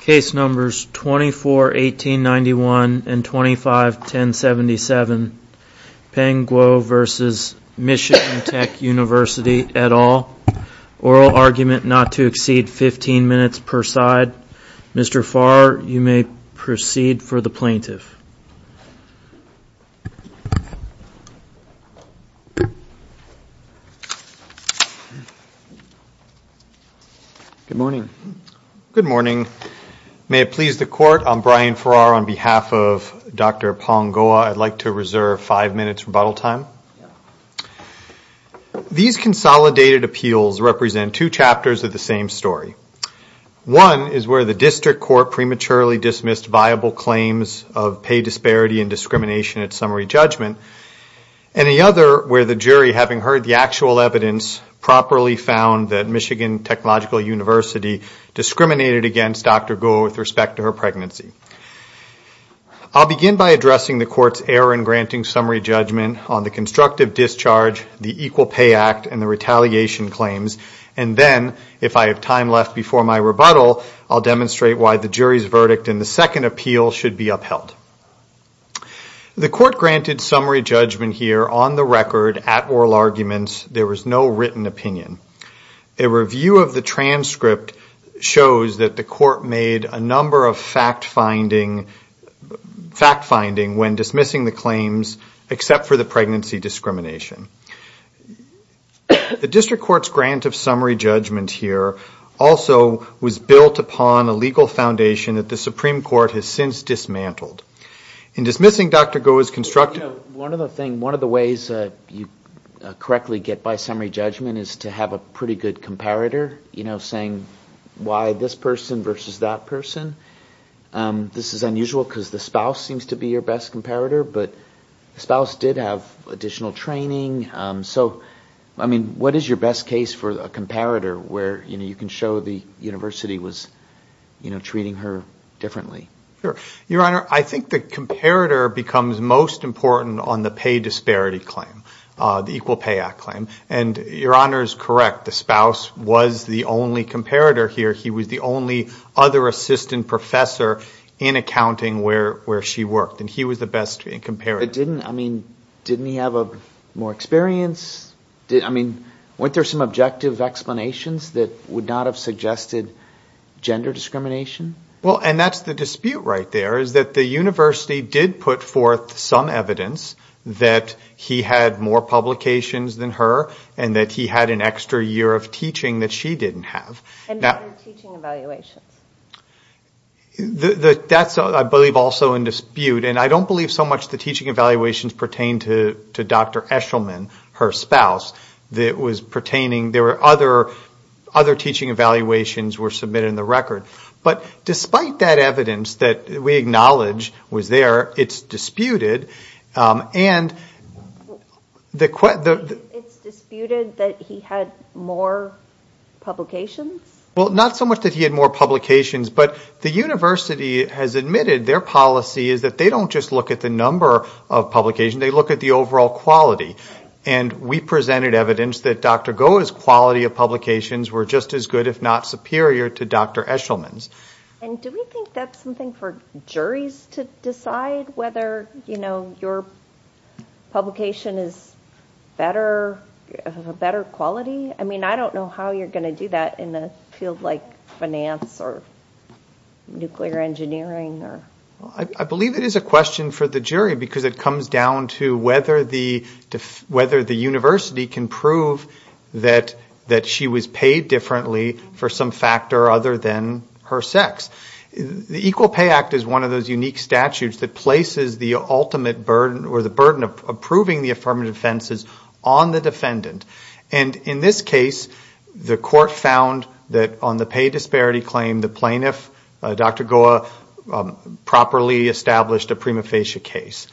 Case numbers 24-1891 and 25-1077, Peng Guo v. Michigan Tech University, et al. Oral argument not to exceed 15 minutes per side. Mr. Farr, you may proceed for the plaintiff. Good morning. Good morning. May it please the court, I'm Brian Farrar on behalf of Dr. Peng Guo. I'd like to reserve five minutes rebuttal time. These consolidated appeals represent two chapters of the same story. One is where the district court prematurely dismissed viable claims of pay disparity and discrimination at summary judgment. And the other where the jury, having heard the actual evidence, properly found that Michigan Technological University discriminated against Dr. Guo with respect to her pregnancy. I'll begin by addressing the court's error in granting summary judgment on the constructive discharge, the Equal Pay Act, and the retaliation claims. And then, if I have time left before my rebuttal, I'll demonstrate why the jury's verdict in the second appeal should be upheld. The court granted summary judgment here on the record at oral arguments. There was no written opinion. A review of the transcript shows that the court made a number of fact-finding when dismissing the claims except for the pregnancy discrimination. The district court's grant of summary judgment here also was built upon a legal foundation that the Supreme Court has since dismantled. In dismissing Dr. Guo's constructive... One of the ways you correctly get by summary judgment is to have a pretty good comparator, you know, saying why this person versus that person. This is unusual because the spouse seems to be your best comparator, but the spouse did have additional training. So, I mean, what is your best case for a comparator where, you know, you can show the university was, you know, treating her differently? Your Honor, I think the comparator becomes most important on the pay disparity claim, the Equal Pay Act claim. And your Honor is correct. The spouse was the only comparator here. He was the only other assistant professor in accounting where she worked, and he was the best comparator. But didn't, I mean, didn't he have more experience? I mean, weren't there some objective explanations that would not have suggested gender discrimination? Well, and that's the dispute right there, is that the university did put forth some evidence that he had more publications than her, and that he had an extra year of teaching that she didn't have. And other teaching evaluations. That's, I believe, also in dispute, and I don't believe so much the teaching evaluations pertain to Dr. Eshelman, her spouse. There were other teaching evaluations were submitted in the record. But despite that evidence that we acknowledge was there, it's disputed. It's disputed that he had more publications? Well, not so much that he had more publications, but the university has admitted their policy is that they don't just look at the number of publications. They look at the overall quality, and we presented evidence that Dr. Goa's quality of publications were just as good, if not superior, to Dr. Eshelman's. And do we think that's something for juries to decide, whether, you know, your publication is better quality? I mean, I don't know how you're going to do that in a field like finance or nuclear engineering. Well, I believe it is a question for the jury, because it comes down to whether the university can prove that she was paid differently for some factor other than her sex. The Equal Pay Act is one of those unique statutes that places the ultimate burden, or the burden of approving the affirmative offenses, on the defendant. And in this case, the court found that on the pay disparity claim, the plaintiff, Dr. Goa, was paid less than the defendant. The plaintiff properly established a prima facie case.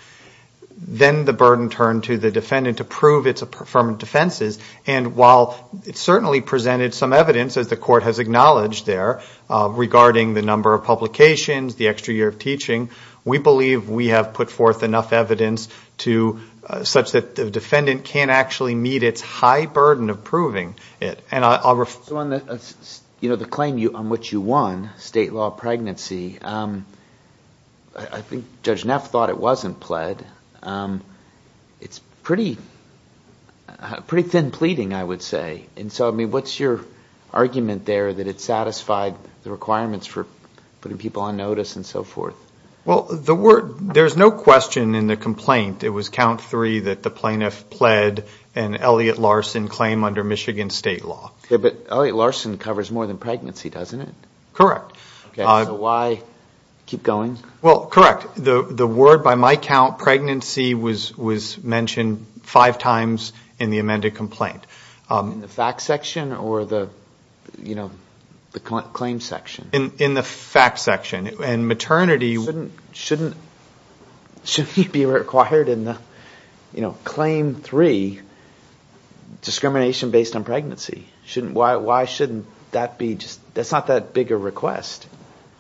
Then the burden turned to the defendant to prove its affirmative defenses, and while it certainly presented some evidence, as the court has acknowledged there, regarding the number of publications, the extra year of teaching, we believe we have put forth enough evidence such that the defendant can't actually meet its high burden of proving it. So on the claim on which you won state law pregnancy, I think Judge Neff thought it wasn't pled. It's pretty thin pleading, I would say. And so, I mean, what's your argument there that it satisfied the requirements for putting people on notice and so forth? Well, the word, there's no question in the complaint, it was count three that the plaintiff pled an Elliott-Larson claim under Michigan state law. But Elliott-Larson covers more than pregnancy, doesn't it? Correct. So why keep going? Well, correct. The word by my count, pregnancy, was mentioned five times in the amended complaint. In the fact section or the claim section? In the fact section. And maternity... Shouldn't it be required in the claim three, discrimination based on pregnancy? Why shouldn't that be just, that's not that big a request.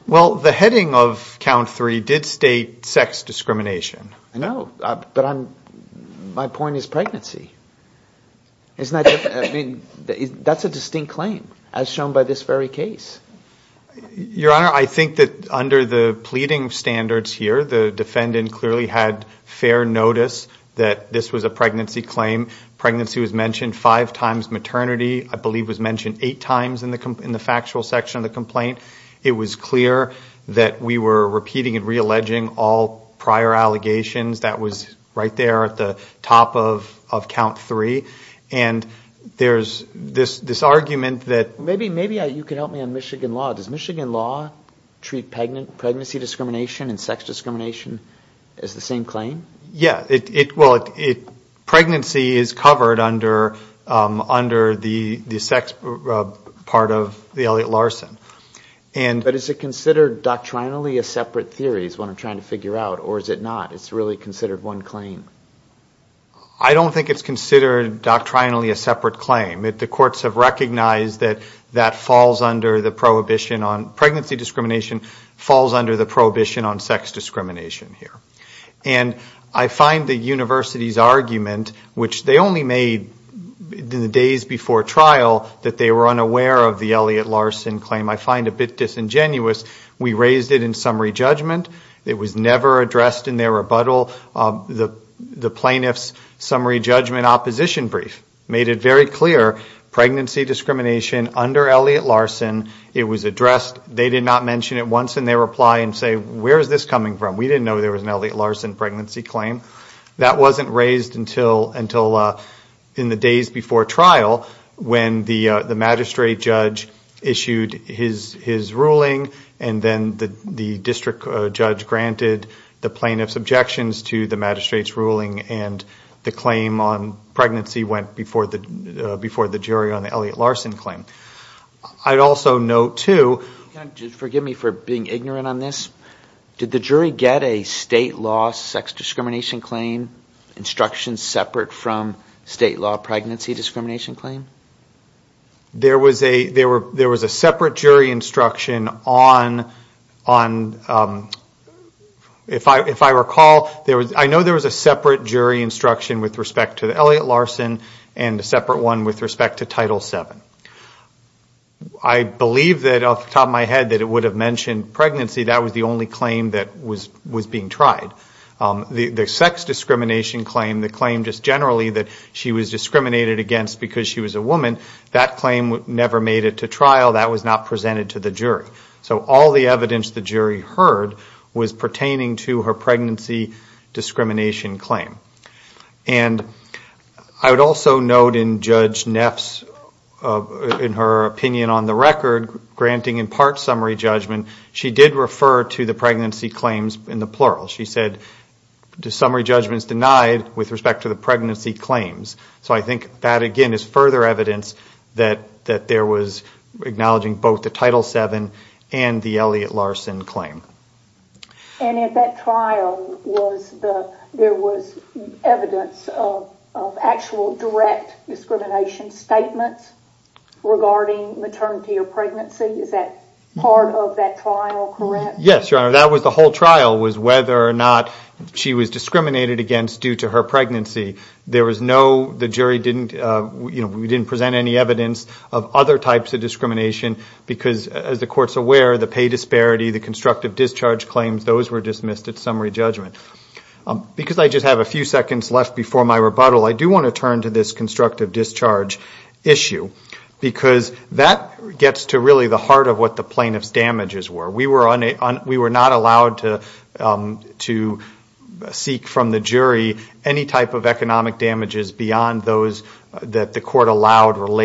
Well, the heading of count three did state sex discrimination. I know. But my point is pregnancy. That's a distinct claim, as shown by this very case. Your Honor, I think that under the pleading standards here, the defendant clearly had fair notice that this was a pregnancy claim. Pregnancy was mentioned five times, maternity I believe was mentioned eight times in the factual section of the complaint. It was clear that we were repeating and re-alleging all prior allegations. That was right there at the top of count three. And there's this argument that... Maybe you can help me on Michigan law. Does Michigan law treat pregnancy discrimination and sex discrimination as the same claim? Yeah. Well, pregnancy is covered under the sex part of the Elliott-Larson. But is it considered doctrinally a separate theory is what I'm trying to figure out, or is it not? It's really considered one claim. I don't think it's considered doctrinally a separate claim. The courts have recognized that that falls under the prohibition on... Pregnancy discrimination falls under the prohibition on sex discrimination here. And I find the university's argument, which they only made in the days before trial, that they were unaware of the Elliott-Larson claim. I find it a bit disingenuous. We raised it in summary judgment. It was never addressed in their rebuttal. The plaintiff's summary judgment opposition brief made it very clear, pregnancy discrimination under Elliott-Larson, it was addressed. They did not mention it once in their reply and say, where is this coming from? We didn't know there was an Elliott-Larson pregnancy claim. That wasn't raised until in the days before trial when the magistrate judge issued his ruling and then the district judge granted the plaintiff's objections to the magistrate's ruling and the claim on pregnancy went before the jury on the Elliott-Larson claim. I'd also note, too... Did the jury get a state law sex discrimination claim instruction separate from state law pregnancy discrimination claim? There was a separate jury instruction on... If I recall, I know there was a separate jury instruction with respect to the Elliott-Larson and a separate one with respect to Title VII. I believe that off the top of my head that it would have mentioned pregnancy. That was the only claim that was being tried. The sex discrimination claim, the claim just generally that she was discriminated against because she was a woman, that claim never made it to trial. That was not presented to the jury. So all the evidence the jury heard was pertaining to her pregnancy discrimination claim. And I would also note in Judge Neff's, in her opinion on the record, granting in part summary judgment, she did refer to the pregnancy claims in the plural. She said the summary judgment is denied with respect to the pregnancy claims. So I think that, again, is further evidence that there was acknowledging both the Title VII and the Elliott-Larson claim. And at that trial, there was evidence of actual direct discrimination statements regarding maternity or pregnancy. Is that part of that trial, correct? Yes, Your Honor. That was the whole trial was whether or not she was discriminated against due to her pregnancy. There was no, the jury didn't, you know, we didn't present any evidence of other types of discrimination because, as the court's aware, the pay disparity, the constructive discharge claims, those were dismissed at summary judgment. Because I just have a few seconds left before my rebuttal, I do want to turn to this constructive discharge issue, because that gets to really the heart of what the plaintiff's damages were. We were not allowed to seek from the jury any type of economic damages beyond those that the jury could determine.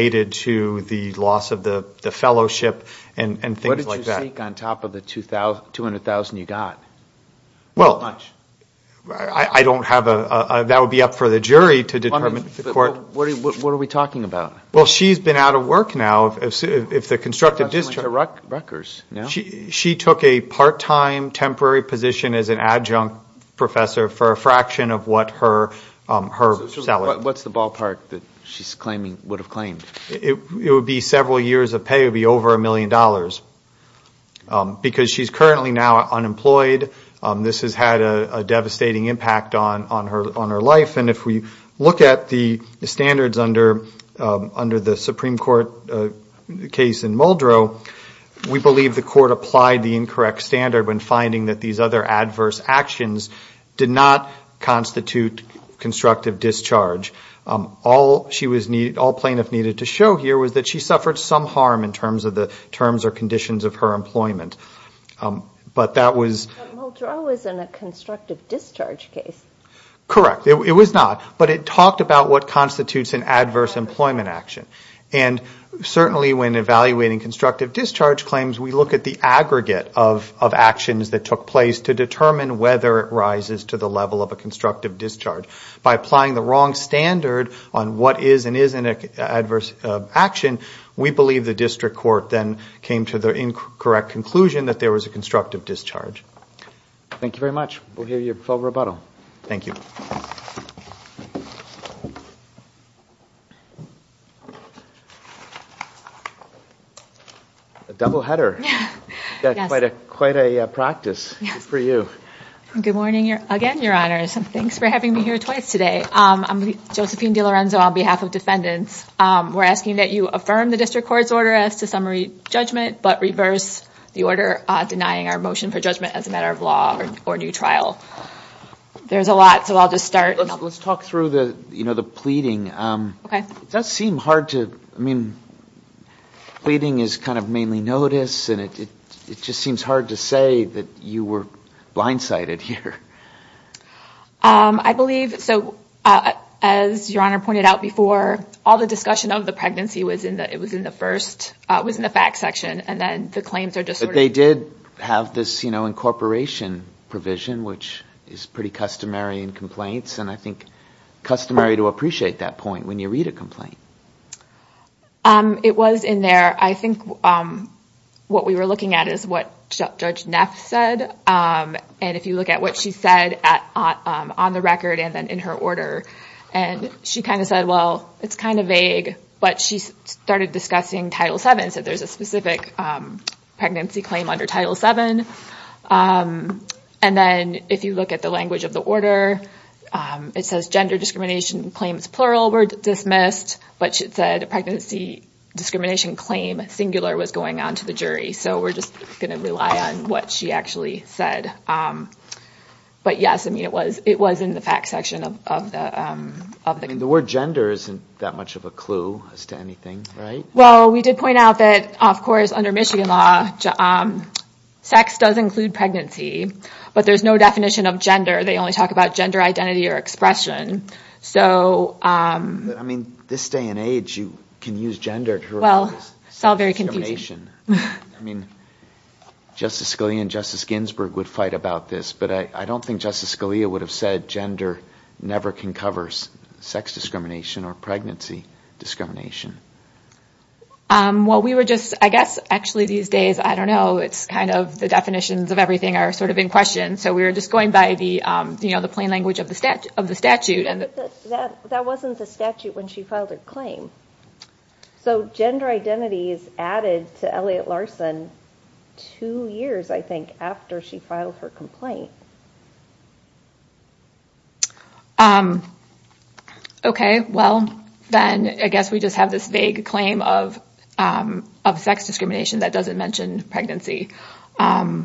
Well, I don't have a, that would be up for the jury to determine. What are we talking about? Well, she's been out of work now. She took a part-time temporary position as an adjunct professor for a fraction of what her salary was. What's the ballpark that she's claiming, would have claimed? It would be several years of pay. It would be over a million dollars. Because she's currently now unemployed, this has had a devastating impact on her life. And if we look at the standards under the Supreme Court case in Muldrow, we believe the court applied the incorrect standard when finding that these other adverse actions did not constitute constructive discharge. All plaintiff needed to show here was that she suffered some harm in terms of the terms or conditions of her employment. But that was... Correct. It was not. But it talked about what constitutes an adverse employment action. And certainly when evaluating constructive discharge claims, we look at the aggregate of actions that took place to determine whether it rises to the level of a constructive discharge. By applying the wrong standard on what is and isn't an adverse action, we believe the district court then came to the incorrect conclusion that there was a constructive discharge. Thank you very much. We'll hear your full rebuttal. Thank you. A double header. Quite a practice for you. Good morning again, Your Honors. Thanks for having me here twice today. I'm Josephine DiLorenzo on behalf of defendants. We're asking that you affirm the district court's order as to summary judgment, but reverse the order denying our motion for judgment as a matter of law or new trial. There's a lot, so I'll just start. Let's talk through the pleading. It does seem hard to... Pleading is mainly notice, and it just seems hard to say that you were blindsided here. I believe, as Your Honor pointed out before, all the discussion of the pregnancy was in the facts section, and then the claims are just... But they did have this incorporation provision, which is pretty customary in complaints. I think customary to appreciate that point when you read a complaint. It was in there. I think what we were looking at is what Judge Neff said, and if you look at what she said on the record and then in her order, and she kind of said, well, it's kind of vague, but she started discussing Title VII, so there's a specific pregnancy claim under Title VII. And then if you look at the language of the order, it says gender discrimination claims plural were dismissed, but she said pregnancy discrimination claim singular was going on to the jury, so we're just going to rely on what she actually said. But yes, it was in the facts section of the... The word gender isn't that much of a clue as to anything, right? Well, we did point out that, of course, under Michigan law, sex does include pregnancy, but there's no definition of gender. They only talk about gender identity or expression, so... I mean, this day and age, you can use gender to refer to sex discrimination. Well, it's all very confusing. I mean, Justice Scalia and Justice Ginsburg would fight about this, but I don't think Justice Scalia would have said gender never concovers sex discrimination or pregnancy discrimination. Well, we were just... I guess, actually, these days, I don't know, it's kind of the definitions of everything are sort of in question, so we were just going by the plain language of the statute. But that wasn't the statute when she filed her claim. So gender identity is added to Elliott Larson two years, I think, after she filed her complaint. Okay. Well, then, I guess we just have this vague claim of sex discrimination that doesn't mention pregnancy. But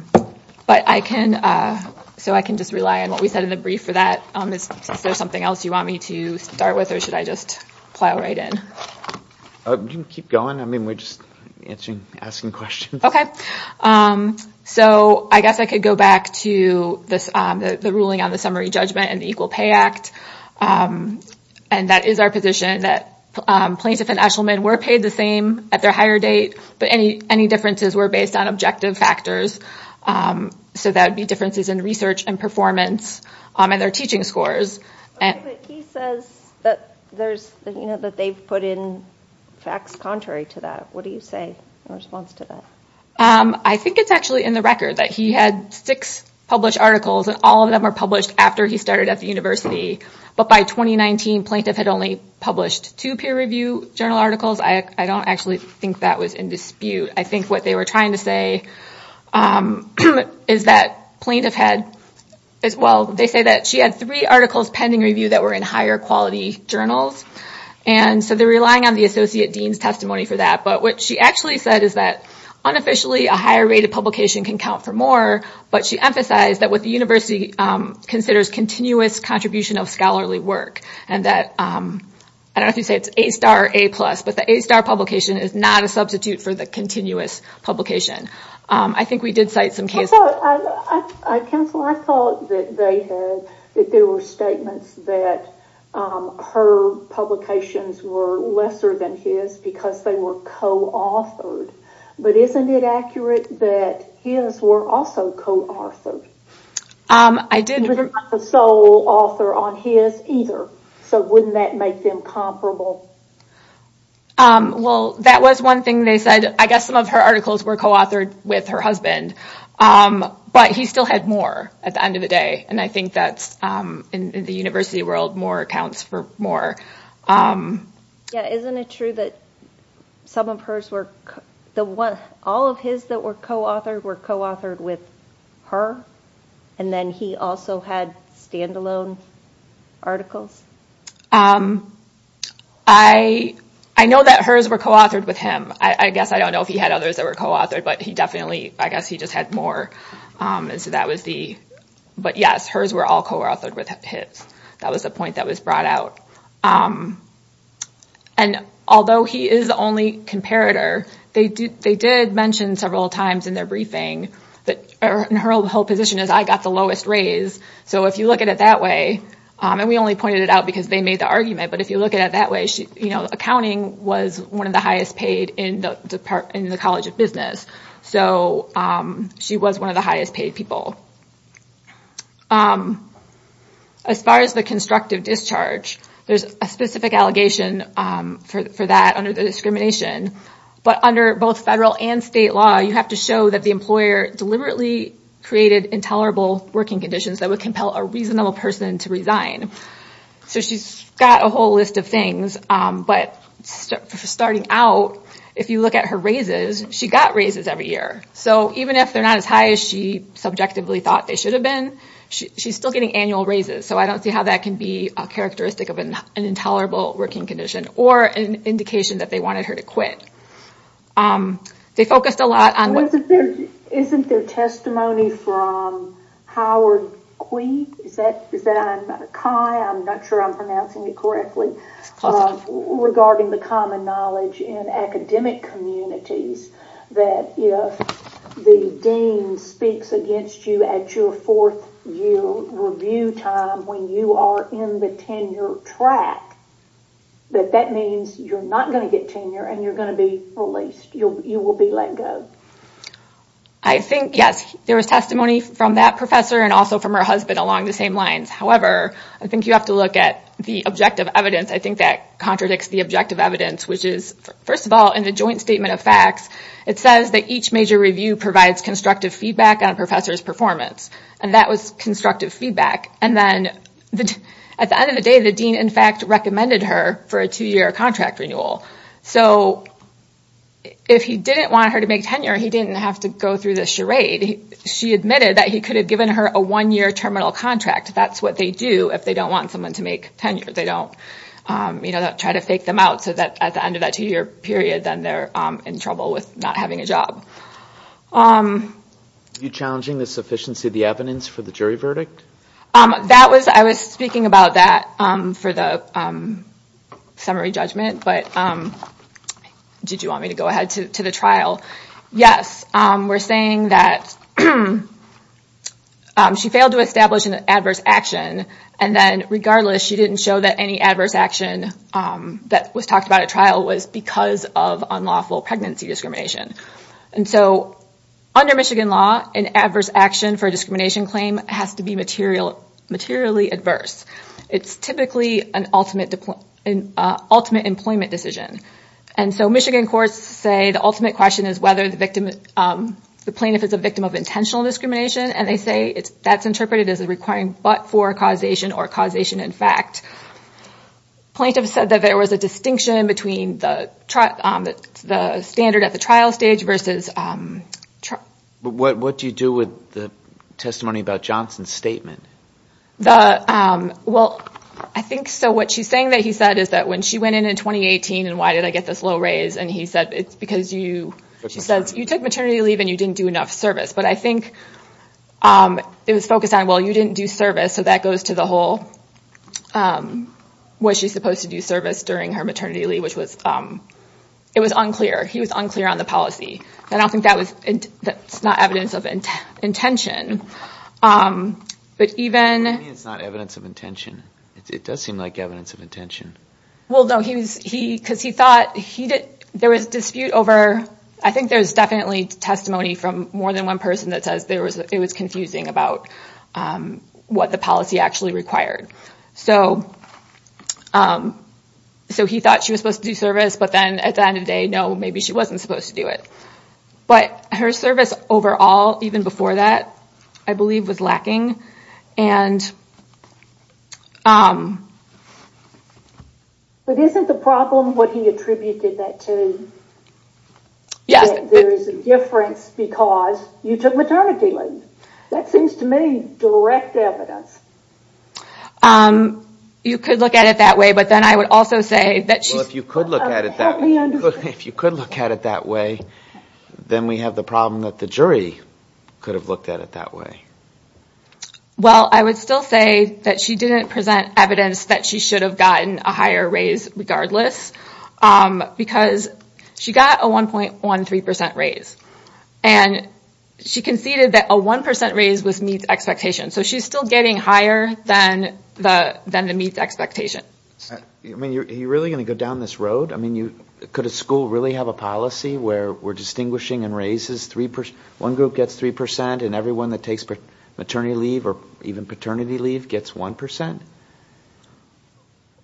I can... So I can just rely on what we said in the brief for that. Is there something else you want me to start with, or should I just plow right in? You can keep going. I mean, we're just asking questions. Okay. So I guess I could go back to the ruling on the summary judgment and the Equal Pay Act. And that is our position, that plaintiff and eshelman were paid the same at their hire date, but any differences were based on objective factors. So that would be differences in research and performance and their teaching scores. He says that they've put in facts contrary to that. What do you say in response to that? I think it's actually in the record that he had six published articles, and all of them were published after he started at the university. But by 2019, plaintiff had only published two peer review journal articles. I don't actually think that was in dispute. I think what they were trying to say is that plaintiff had... Well, they say that she had three articles pending review that were in higher quality journals. And so they're relying on the associate dean's testimony for that. But what she actually said is that unofficially, a higher rate of publication can count for more. But she emphasized that what the university considers continuous contribution of scholarly work. And that, I don't know if you'd say it's A-star or A-plus, but the A-star publication is not a substitute for the continuous publication. I think we did cite some cases... Counselor, I thought that there were statements that her publications were lesser than his because they were co-authored. But isn't it accurate that his were also co-authored? I didn't... So wouldn't that make them comparable? Well, that was one thing they said. I guess some of her articles were co-authored with her husband, but he still had more at the end of the day. And I think that in the university world, more accounts for more. Yeah, isn't it true that some of hers were... All of his that were co-authored were co-authored with her? And then he also had standalone articles? I know that hers were co-authored with him. I guess I don't know if he had others that were co-authored, but I guess he just had more. But yes, hers were all co-authored with his. That was the point that was brought out. And although he is the only comparator, they did mention several times in their briefing that... Her whole position is, I got the lowest raise. So if you look at it that way, and we only pointed it out because they made the argument, but if you look at it that way, accounting was one of the highest paid in the College of Business. So she was one of the highest paid people. As far as the constructive discharge, there's a specific allegation for that under the discrimination. But under both federal and state law, you have to show that the employer deliberately created intolerable working conditions that would compel a reasonable person to resign. So she's got a whole list of things. But starting out, if you look at her raises, she got raises every year. So even if they're not as high as she subjectively thought they should have been, she's still getting annual raises. So I don't see how that can be a characteristic of an intolerable working condition, or an indication that they wanted her to quit. Isn't there testimony from Howard Quig? I'm not sure I'm pronouncing it correctly. Regarding the common knowledge in academic communities, that if the dean speaks against you at your fourth year review time when you are in the tenure track, that that means you're not going to get tenure and you're going to be released. You will be let go. I think, yes, there was testimony from that professor and also from her husband along the same lines. However, I think you have to look at the objective evidence. I think that contradicts the objective evidence, which is, first of all, in the joint statement of facts, it says that each major review provides constructive feedback on a professor's performance. And that was constructive feedback. At the end of the day, the dean, in fact, recommended her for a two-year contract renewal. So if he didn't want her to make tenure, he didn't have to go through this charade. She admitted that he could have given her a one-year terminal contract. That's what they do if they don't want someone to make tenure. They don't try to fake them out so that at the end of that two-year period, then they're in trouble with not having a job. Are you challenging the sufficiency of the evidence for the jury verdict? I was speaking about that for the summary judgment. But did you want me to go ahead to the trial? Yes, we're saying that she failed to establish an adverse action. And then regardless, she didn't show that any adverse action that was talked about at trial was because of unlawful pregnancy discrimination. And so under Michigan law, an adverse action for a discrimination claim has to be materially adverse. It's typically an ultimate employment decision. And so Michigan courts say the ultimate question is whether the plaintiff is a victim of intentional discrimination. And they say that's interpreted as a requiring but for causation or causation in fact. Plaintiff said that there was a distinction between the standard at the trial stage versus... What do you do with the testimony about Johnson's statement? Well, I think so. What she's saying that he said is that when she went in in 2018 and why did I get this low raise? And he said, it's because you took maternity leave and you didn't do enough service. But I think it was focused on, well, you didn't do service. So that goes to the whole, was she supposed to do service during her maternity leave? It was unclear. He was unclear on the policy. I don't think that's not evidence of intention. It's not evidence of intention. It does seem like evidence of intention. Well, no, because he thought there was dispute over... I think there's definitely testimony from more than one person that says it was confusing about what the policy actually required. So he thought she was supposed to do service, but then at the end of the day, no, maybe she wasn't supposed to do it. But her service overall, even before that, I believe was lacking. But isn't the problem what he attributed that to? There is a difference because you took maternity leave. That seems to me direct evidence. You could look at it that way, but then I would also say... If you could look at it that way, then we have the problem that the jury could have looked at it that way. Well, I would still say that she didn't present evidence that she should have gotten a higher raise regardless, because she got a 1.13% raise, and she conceded that a 1% raise was meets expectations. So she's still getting higher than the meets expectation. Are you really going to go down this road? Could a school really have a policy where we're distinguishing and raises? One group gets 3%, and everyone that takes maternity leave or even paternity leave gets 1%?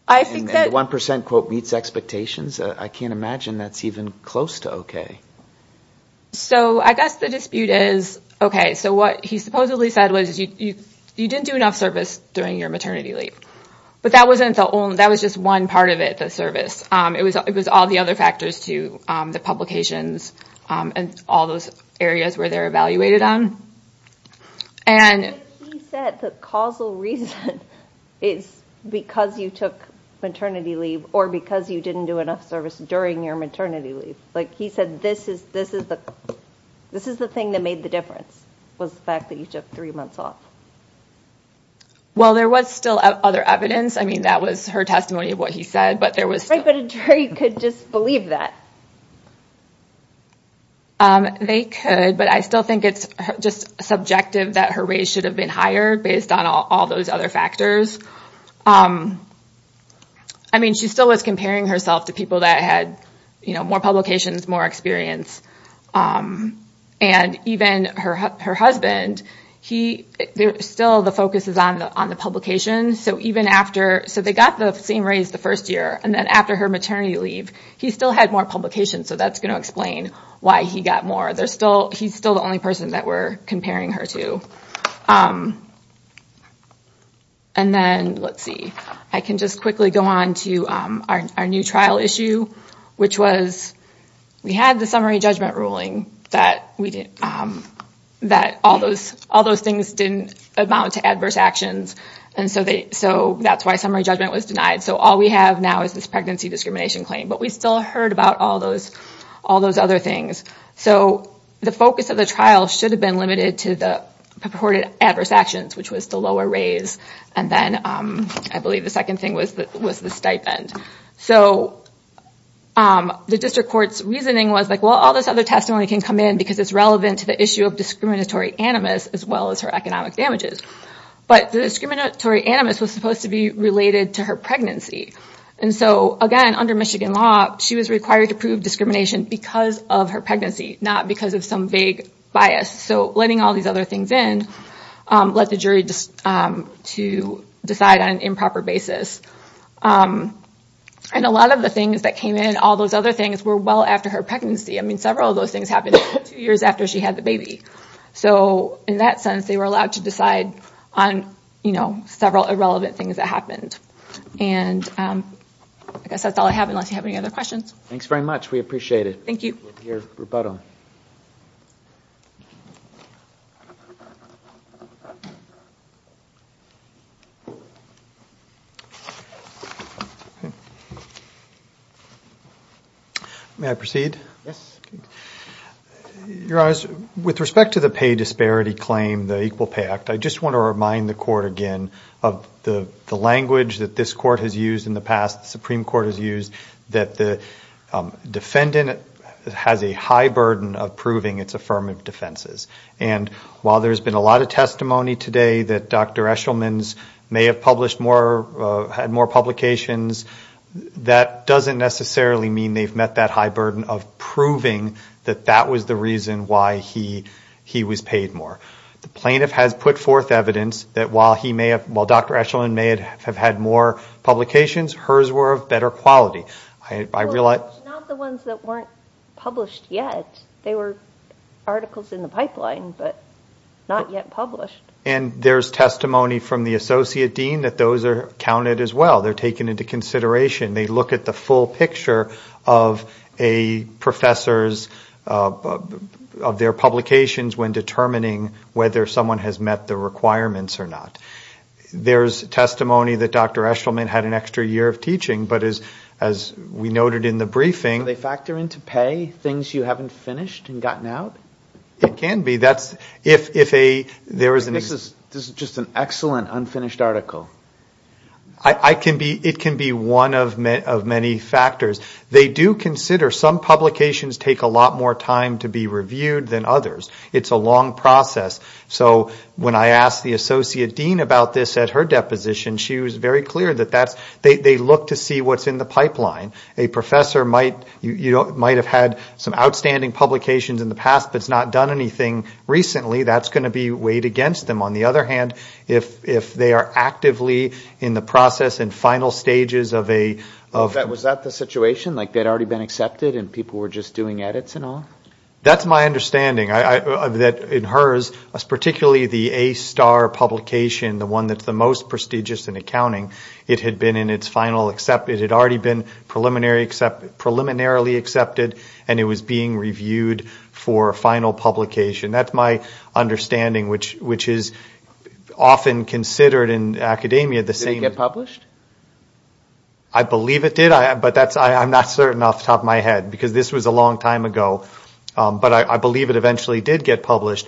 And the 1% quote meets expectations? I can't imagine that's even close to okay. So I guess the dispute is, okay, so what he supposedly said was you didn't do enough service during your maternity leave. But that was just one part of it, the service. It was all the other factors too, the publications and all those areas where they're evaluated on. He said the causal reason is because you took maternity leave or because you didn't do enough service during your maternity leave. He said this is the thing that made the difference, was the fact that you took three months off. Well, there was still other evidence. I mean, that was her testimony of what he said. But a jury could just believe that? They could, but I still think it's just subjective that her raise should have been higher based on all those other factors. I mean, she still was comparing herself to people that had more publications, more experience. And even her husband, still the focus is on the publication. So they got the same raise the first year, and then after her maternity leave, he still had more publications. So that's going to explain why he got more. He's still the only person that we're comparing her to. And then, let's see, I can just quickly go on to our new trial issue, which was, we had the summary judgment ruling that all those things didn't amount to adverse actions. And so that's why summary judgment was denied. So all we have now is this pregnancy discrimination claim. But we still heard about all those other things. So the focus of the trial should have been limited to the purported adverse actions, which was the lower raise. And then I believe the second thing was the stipend. So the district court's reasoning was, well, all this other testimony can come in because it's relevant to the issue of discriminatory animus, as well as her economic damages. But the discriminatory animus was supposed to be related to her pregnancy. And so, again, under Michigan law, she was required to prove discrimination because of her pregnancy, not because of some vague bias. So letting all these other things in led the jury to decide on an improper basis. And a lot of the things that came in, all those other things, were well after her pregnancy. I mean, several of those things happened two years after she had the baby. So in that sense, they were allowed to decide on several irrelevant things that happened. And I guess that's all I have, unless you have any other questions. May I proceed? Your Honor, with respect to the pay disparity claim, the Equal Pay Act, I just want to remind the Court again of the language that this Court has used in the past, the Supreme Court has used, that the defendant has a high burden of proving its affirmative defenses. And while there's been a lot of testimony today that Dr. Eshelman's may have published more, had more publications, that doesn't necessarily mean they've met that high burden of proving that that was the reason why he was paid more. The plaintiff has put forth evidence that while Dr. Eshelman may have had more publications, hers were of better quality. I realize... And there's testimony from the Associate Dean that those are counted as well. They're taken into consideration. They look at the full picture of a professor's, of their publications when determining whether someone has met the requirements or not. There's testimony that Dr. Eshelman had an extra year of teaching, but as we noted in the briefing... This is just an excellent unfinished article. It can be one of many factors. They do consider some publications take a lot more time to be reviewed than others. It's a long process. So when I asked the Associate Dean about this at her deposition, she was very clear that they look to see what's in the pipeline. A professor might have had some outstanding publications in the past but has not done anything recently, that's going to be weighed against them. On the other hand, if they are actively in the process and final stages of a... Was that the situation, like they had already been accepted and people were just doing edits and all? That's my understanding. In hers, particularly the A-star publication, the one that's the most prestigious in accounting, it had been in its final... It had already been preliminarily accepted and it was being reviewed for final publication. That's my understanding, which is often considered in academia the same... Did it get published? I believe it did, but I'm not certain off the top of my head, because this was a long time ago. But I believe it eventually did get published.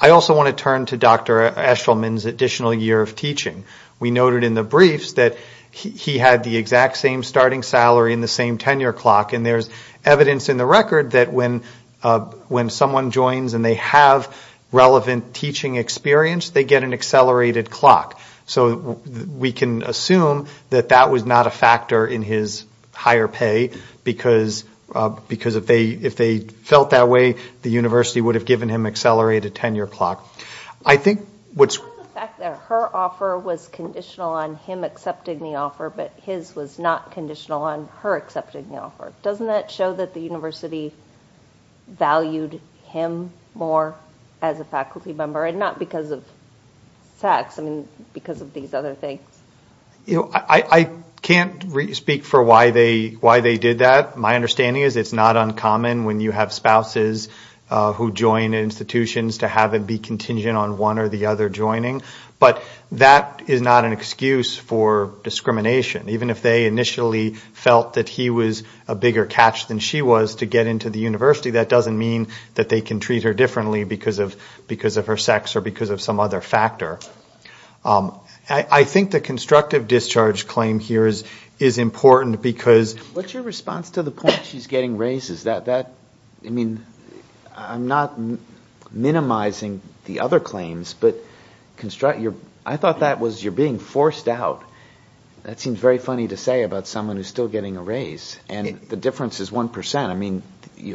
I also want to turn to Dr. Eshelman's additional year of teaching. We noted in the briefs that he had the exact same starting salary and the same tenure clock. And there's evidence in the record that when someone joins and they have relevant teaching experience, they get an accelerated clock. So we can assume that that was not a factor in his higher pay, because if they felt that way, the university would have given him accelerated tenure clock. I think what's... On the fact that her offer was conditional on him accepting the offer, but his was not conditional on her accepting the offer, doesn't that show that the university valued him more as a faculty member? And not because of sex, I mean, because of these other things? I can't speak for why they did that. My understanding is it's not uncommon when you have spouses who join institutions to have it be contingent on one or the other joining. But that is not an excuse for discrimination. Even if they initially felt that he was a bigger catch than she was to get into the university, that doesn't mean that they can treat her differently because of her sex or because of some other factor. I think the constructive discharge claim here is important because... What's your response to the point she's getting raises? I mean, I'm not minimizing the other claims, but I thought that was you're being forced out. That seems very funny to say about someone who's still getting a raise. And the difference is 1%. I mean,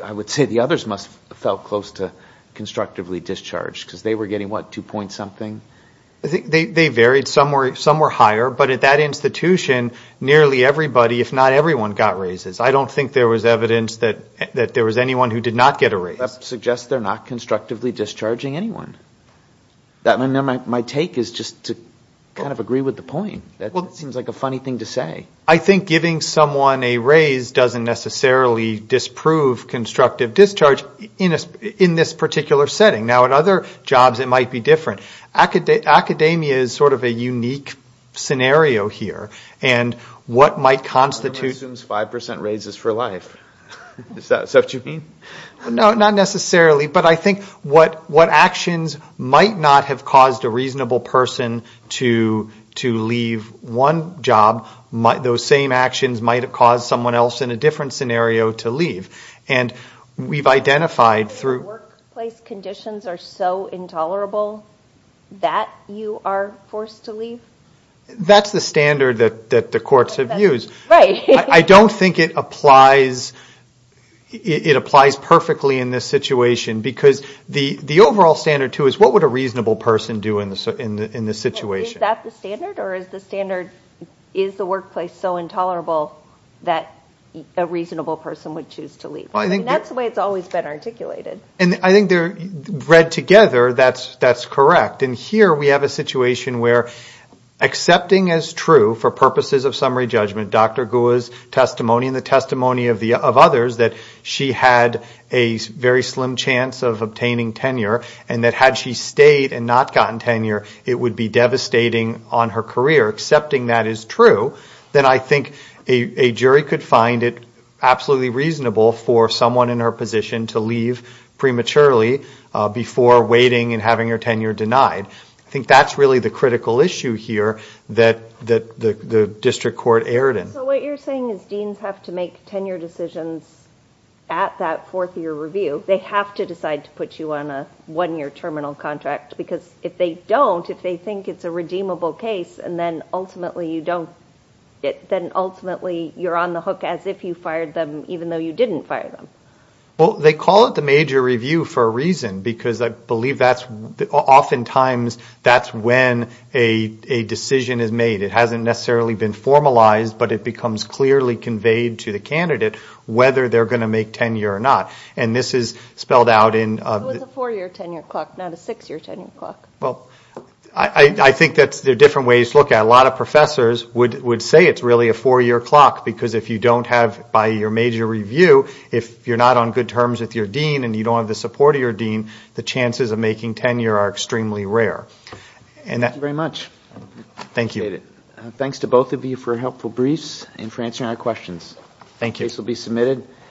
I would say the others must have felt close to constructively discharged because they were getting, what, two points something? They varied. Some were higher, but at that institution, nearly everybody, if not everyone, got raises. I don't think there was evidence that there was anyone who did not get a raise. That suggests they're not constructively discharging anyone. My take is just to kind of agree with the point. That seems like a funny thing to say. I think giving someone a raise doesn't necessarily disprove constructive discharge in this particular setting. Now, at other jobs it might be different. Academia is sort of a unique scenario here. And what might constitute... Is that what you mean? No, not necessarily. But I think what actions might not have caused a reasonable person to leave one job, those same actions might have caused someone else in a different scenario to leave. And we've identified through... Workplace conditions are so intolerable that you are forced to leave? That's the standard that the courts have used. I don't think it applies perfectly in this situation. Because the overall standard, too, is what would a reasonable person do in this situation? Is that the standard? Or is the standard, is the workplace so intolerable that a reasonable person would choose to leave? That's the way it's always been articulated. And I think they're read together, that's correct. And here we have a situation where accepting as true, for purposes of summary judgment, Dr. Goua's testimony and the testimony of others, that she had a very slim chance of obtaining tenure, and that had she stayed and not gotten tenure, it would be devastating on her career. Accepting that as true, then I think a jury could find it absolutely reasonable for someone in her position to leave a job. I think that's really the critical issue here that the district court erred in. So what you're saying is deans have to make tenure decisions at that fourth-year review. They have to decide to put you on a one-year terminal contract. Because if they don't, if they think it's a redeemable case, and then ultimately you don't, then ultimately you're on the hook as if you fired them, even though you didn't fire them. Well, they call it the major review for a reason, because I believe oftentimes that's when a decision is made. It hasn't necessarily been formalized, but it becomes clearly conveyed to the candidate whether they're going to make tenure or not. And this is spelled out in... It was a four-year tenure clock, not a six-year tenure clock. Well, I think there are different ways to look at it. A lot of professors would say it's really a four-year clock, because if you don't have, by your major review, if you're not on good terms with your dean and you don't have the support of your dean, the chances of making tenure are extremely rare. Thank you.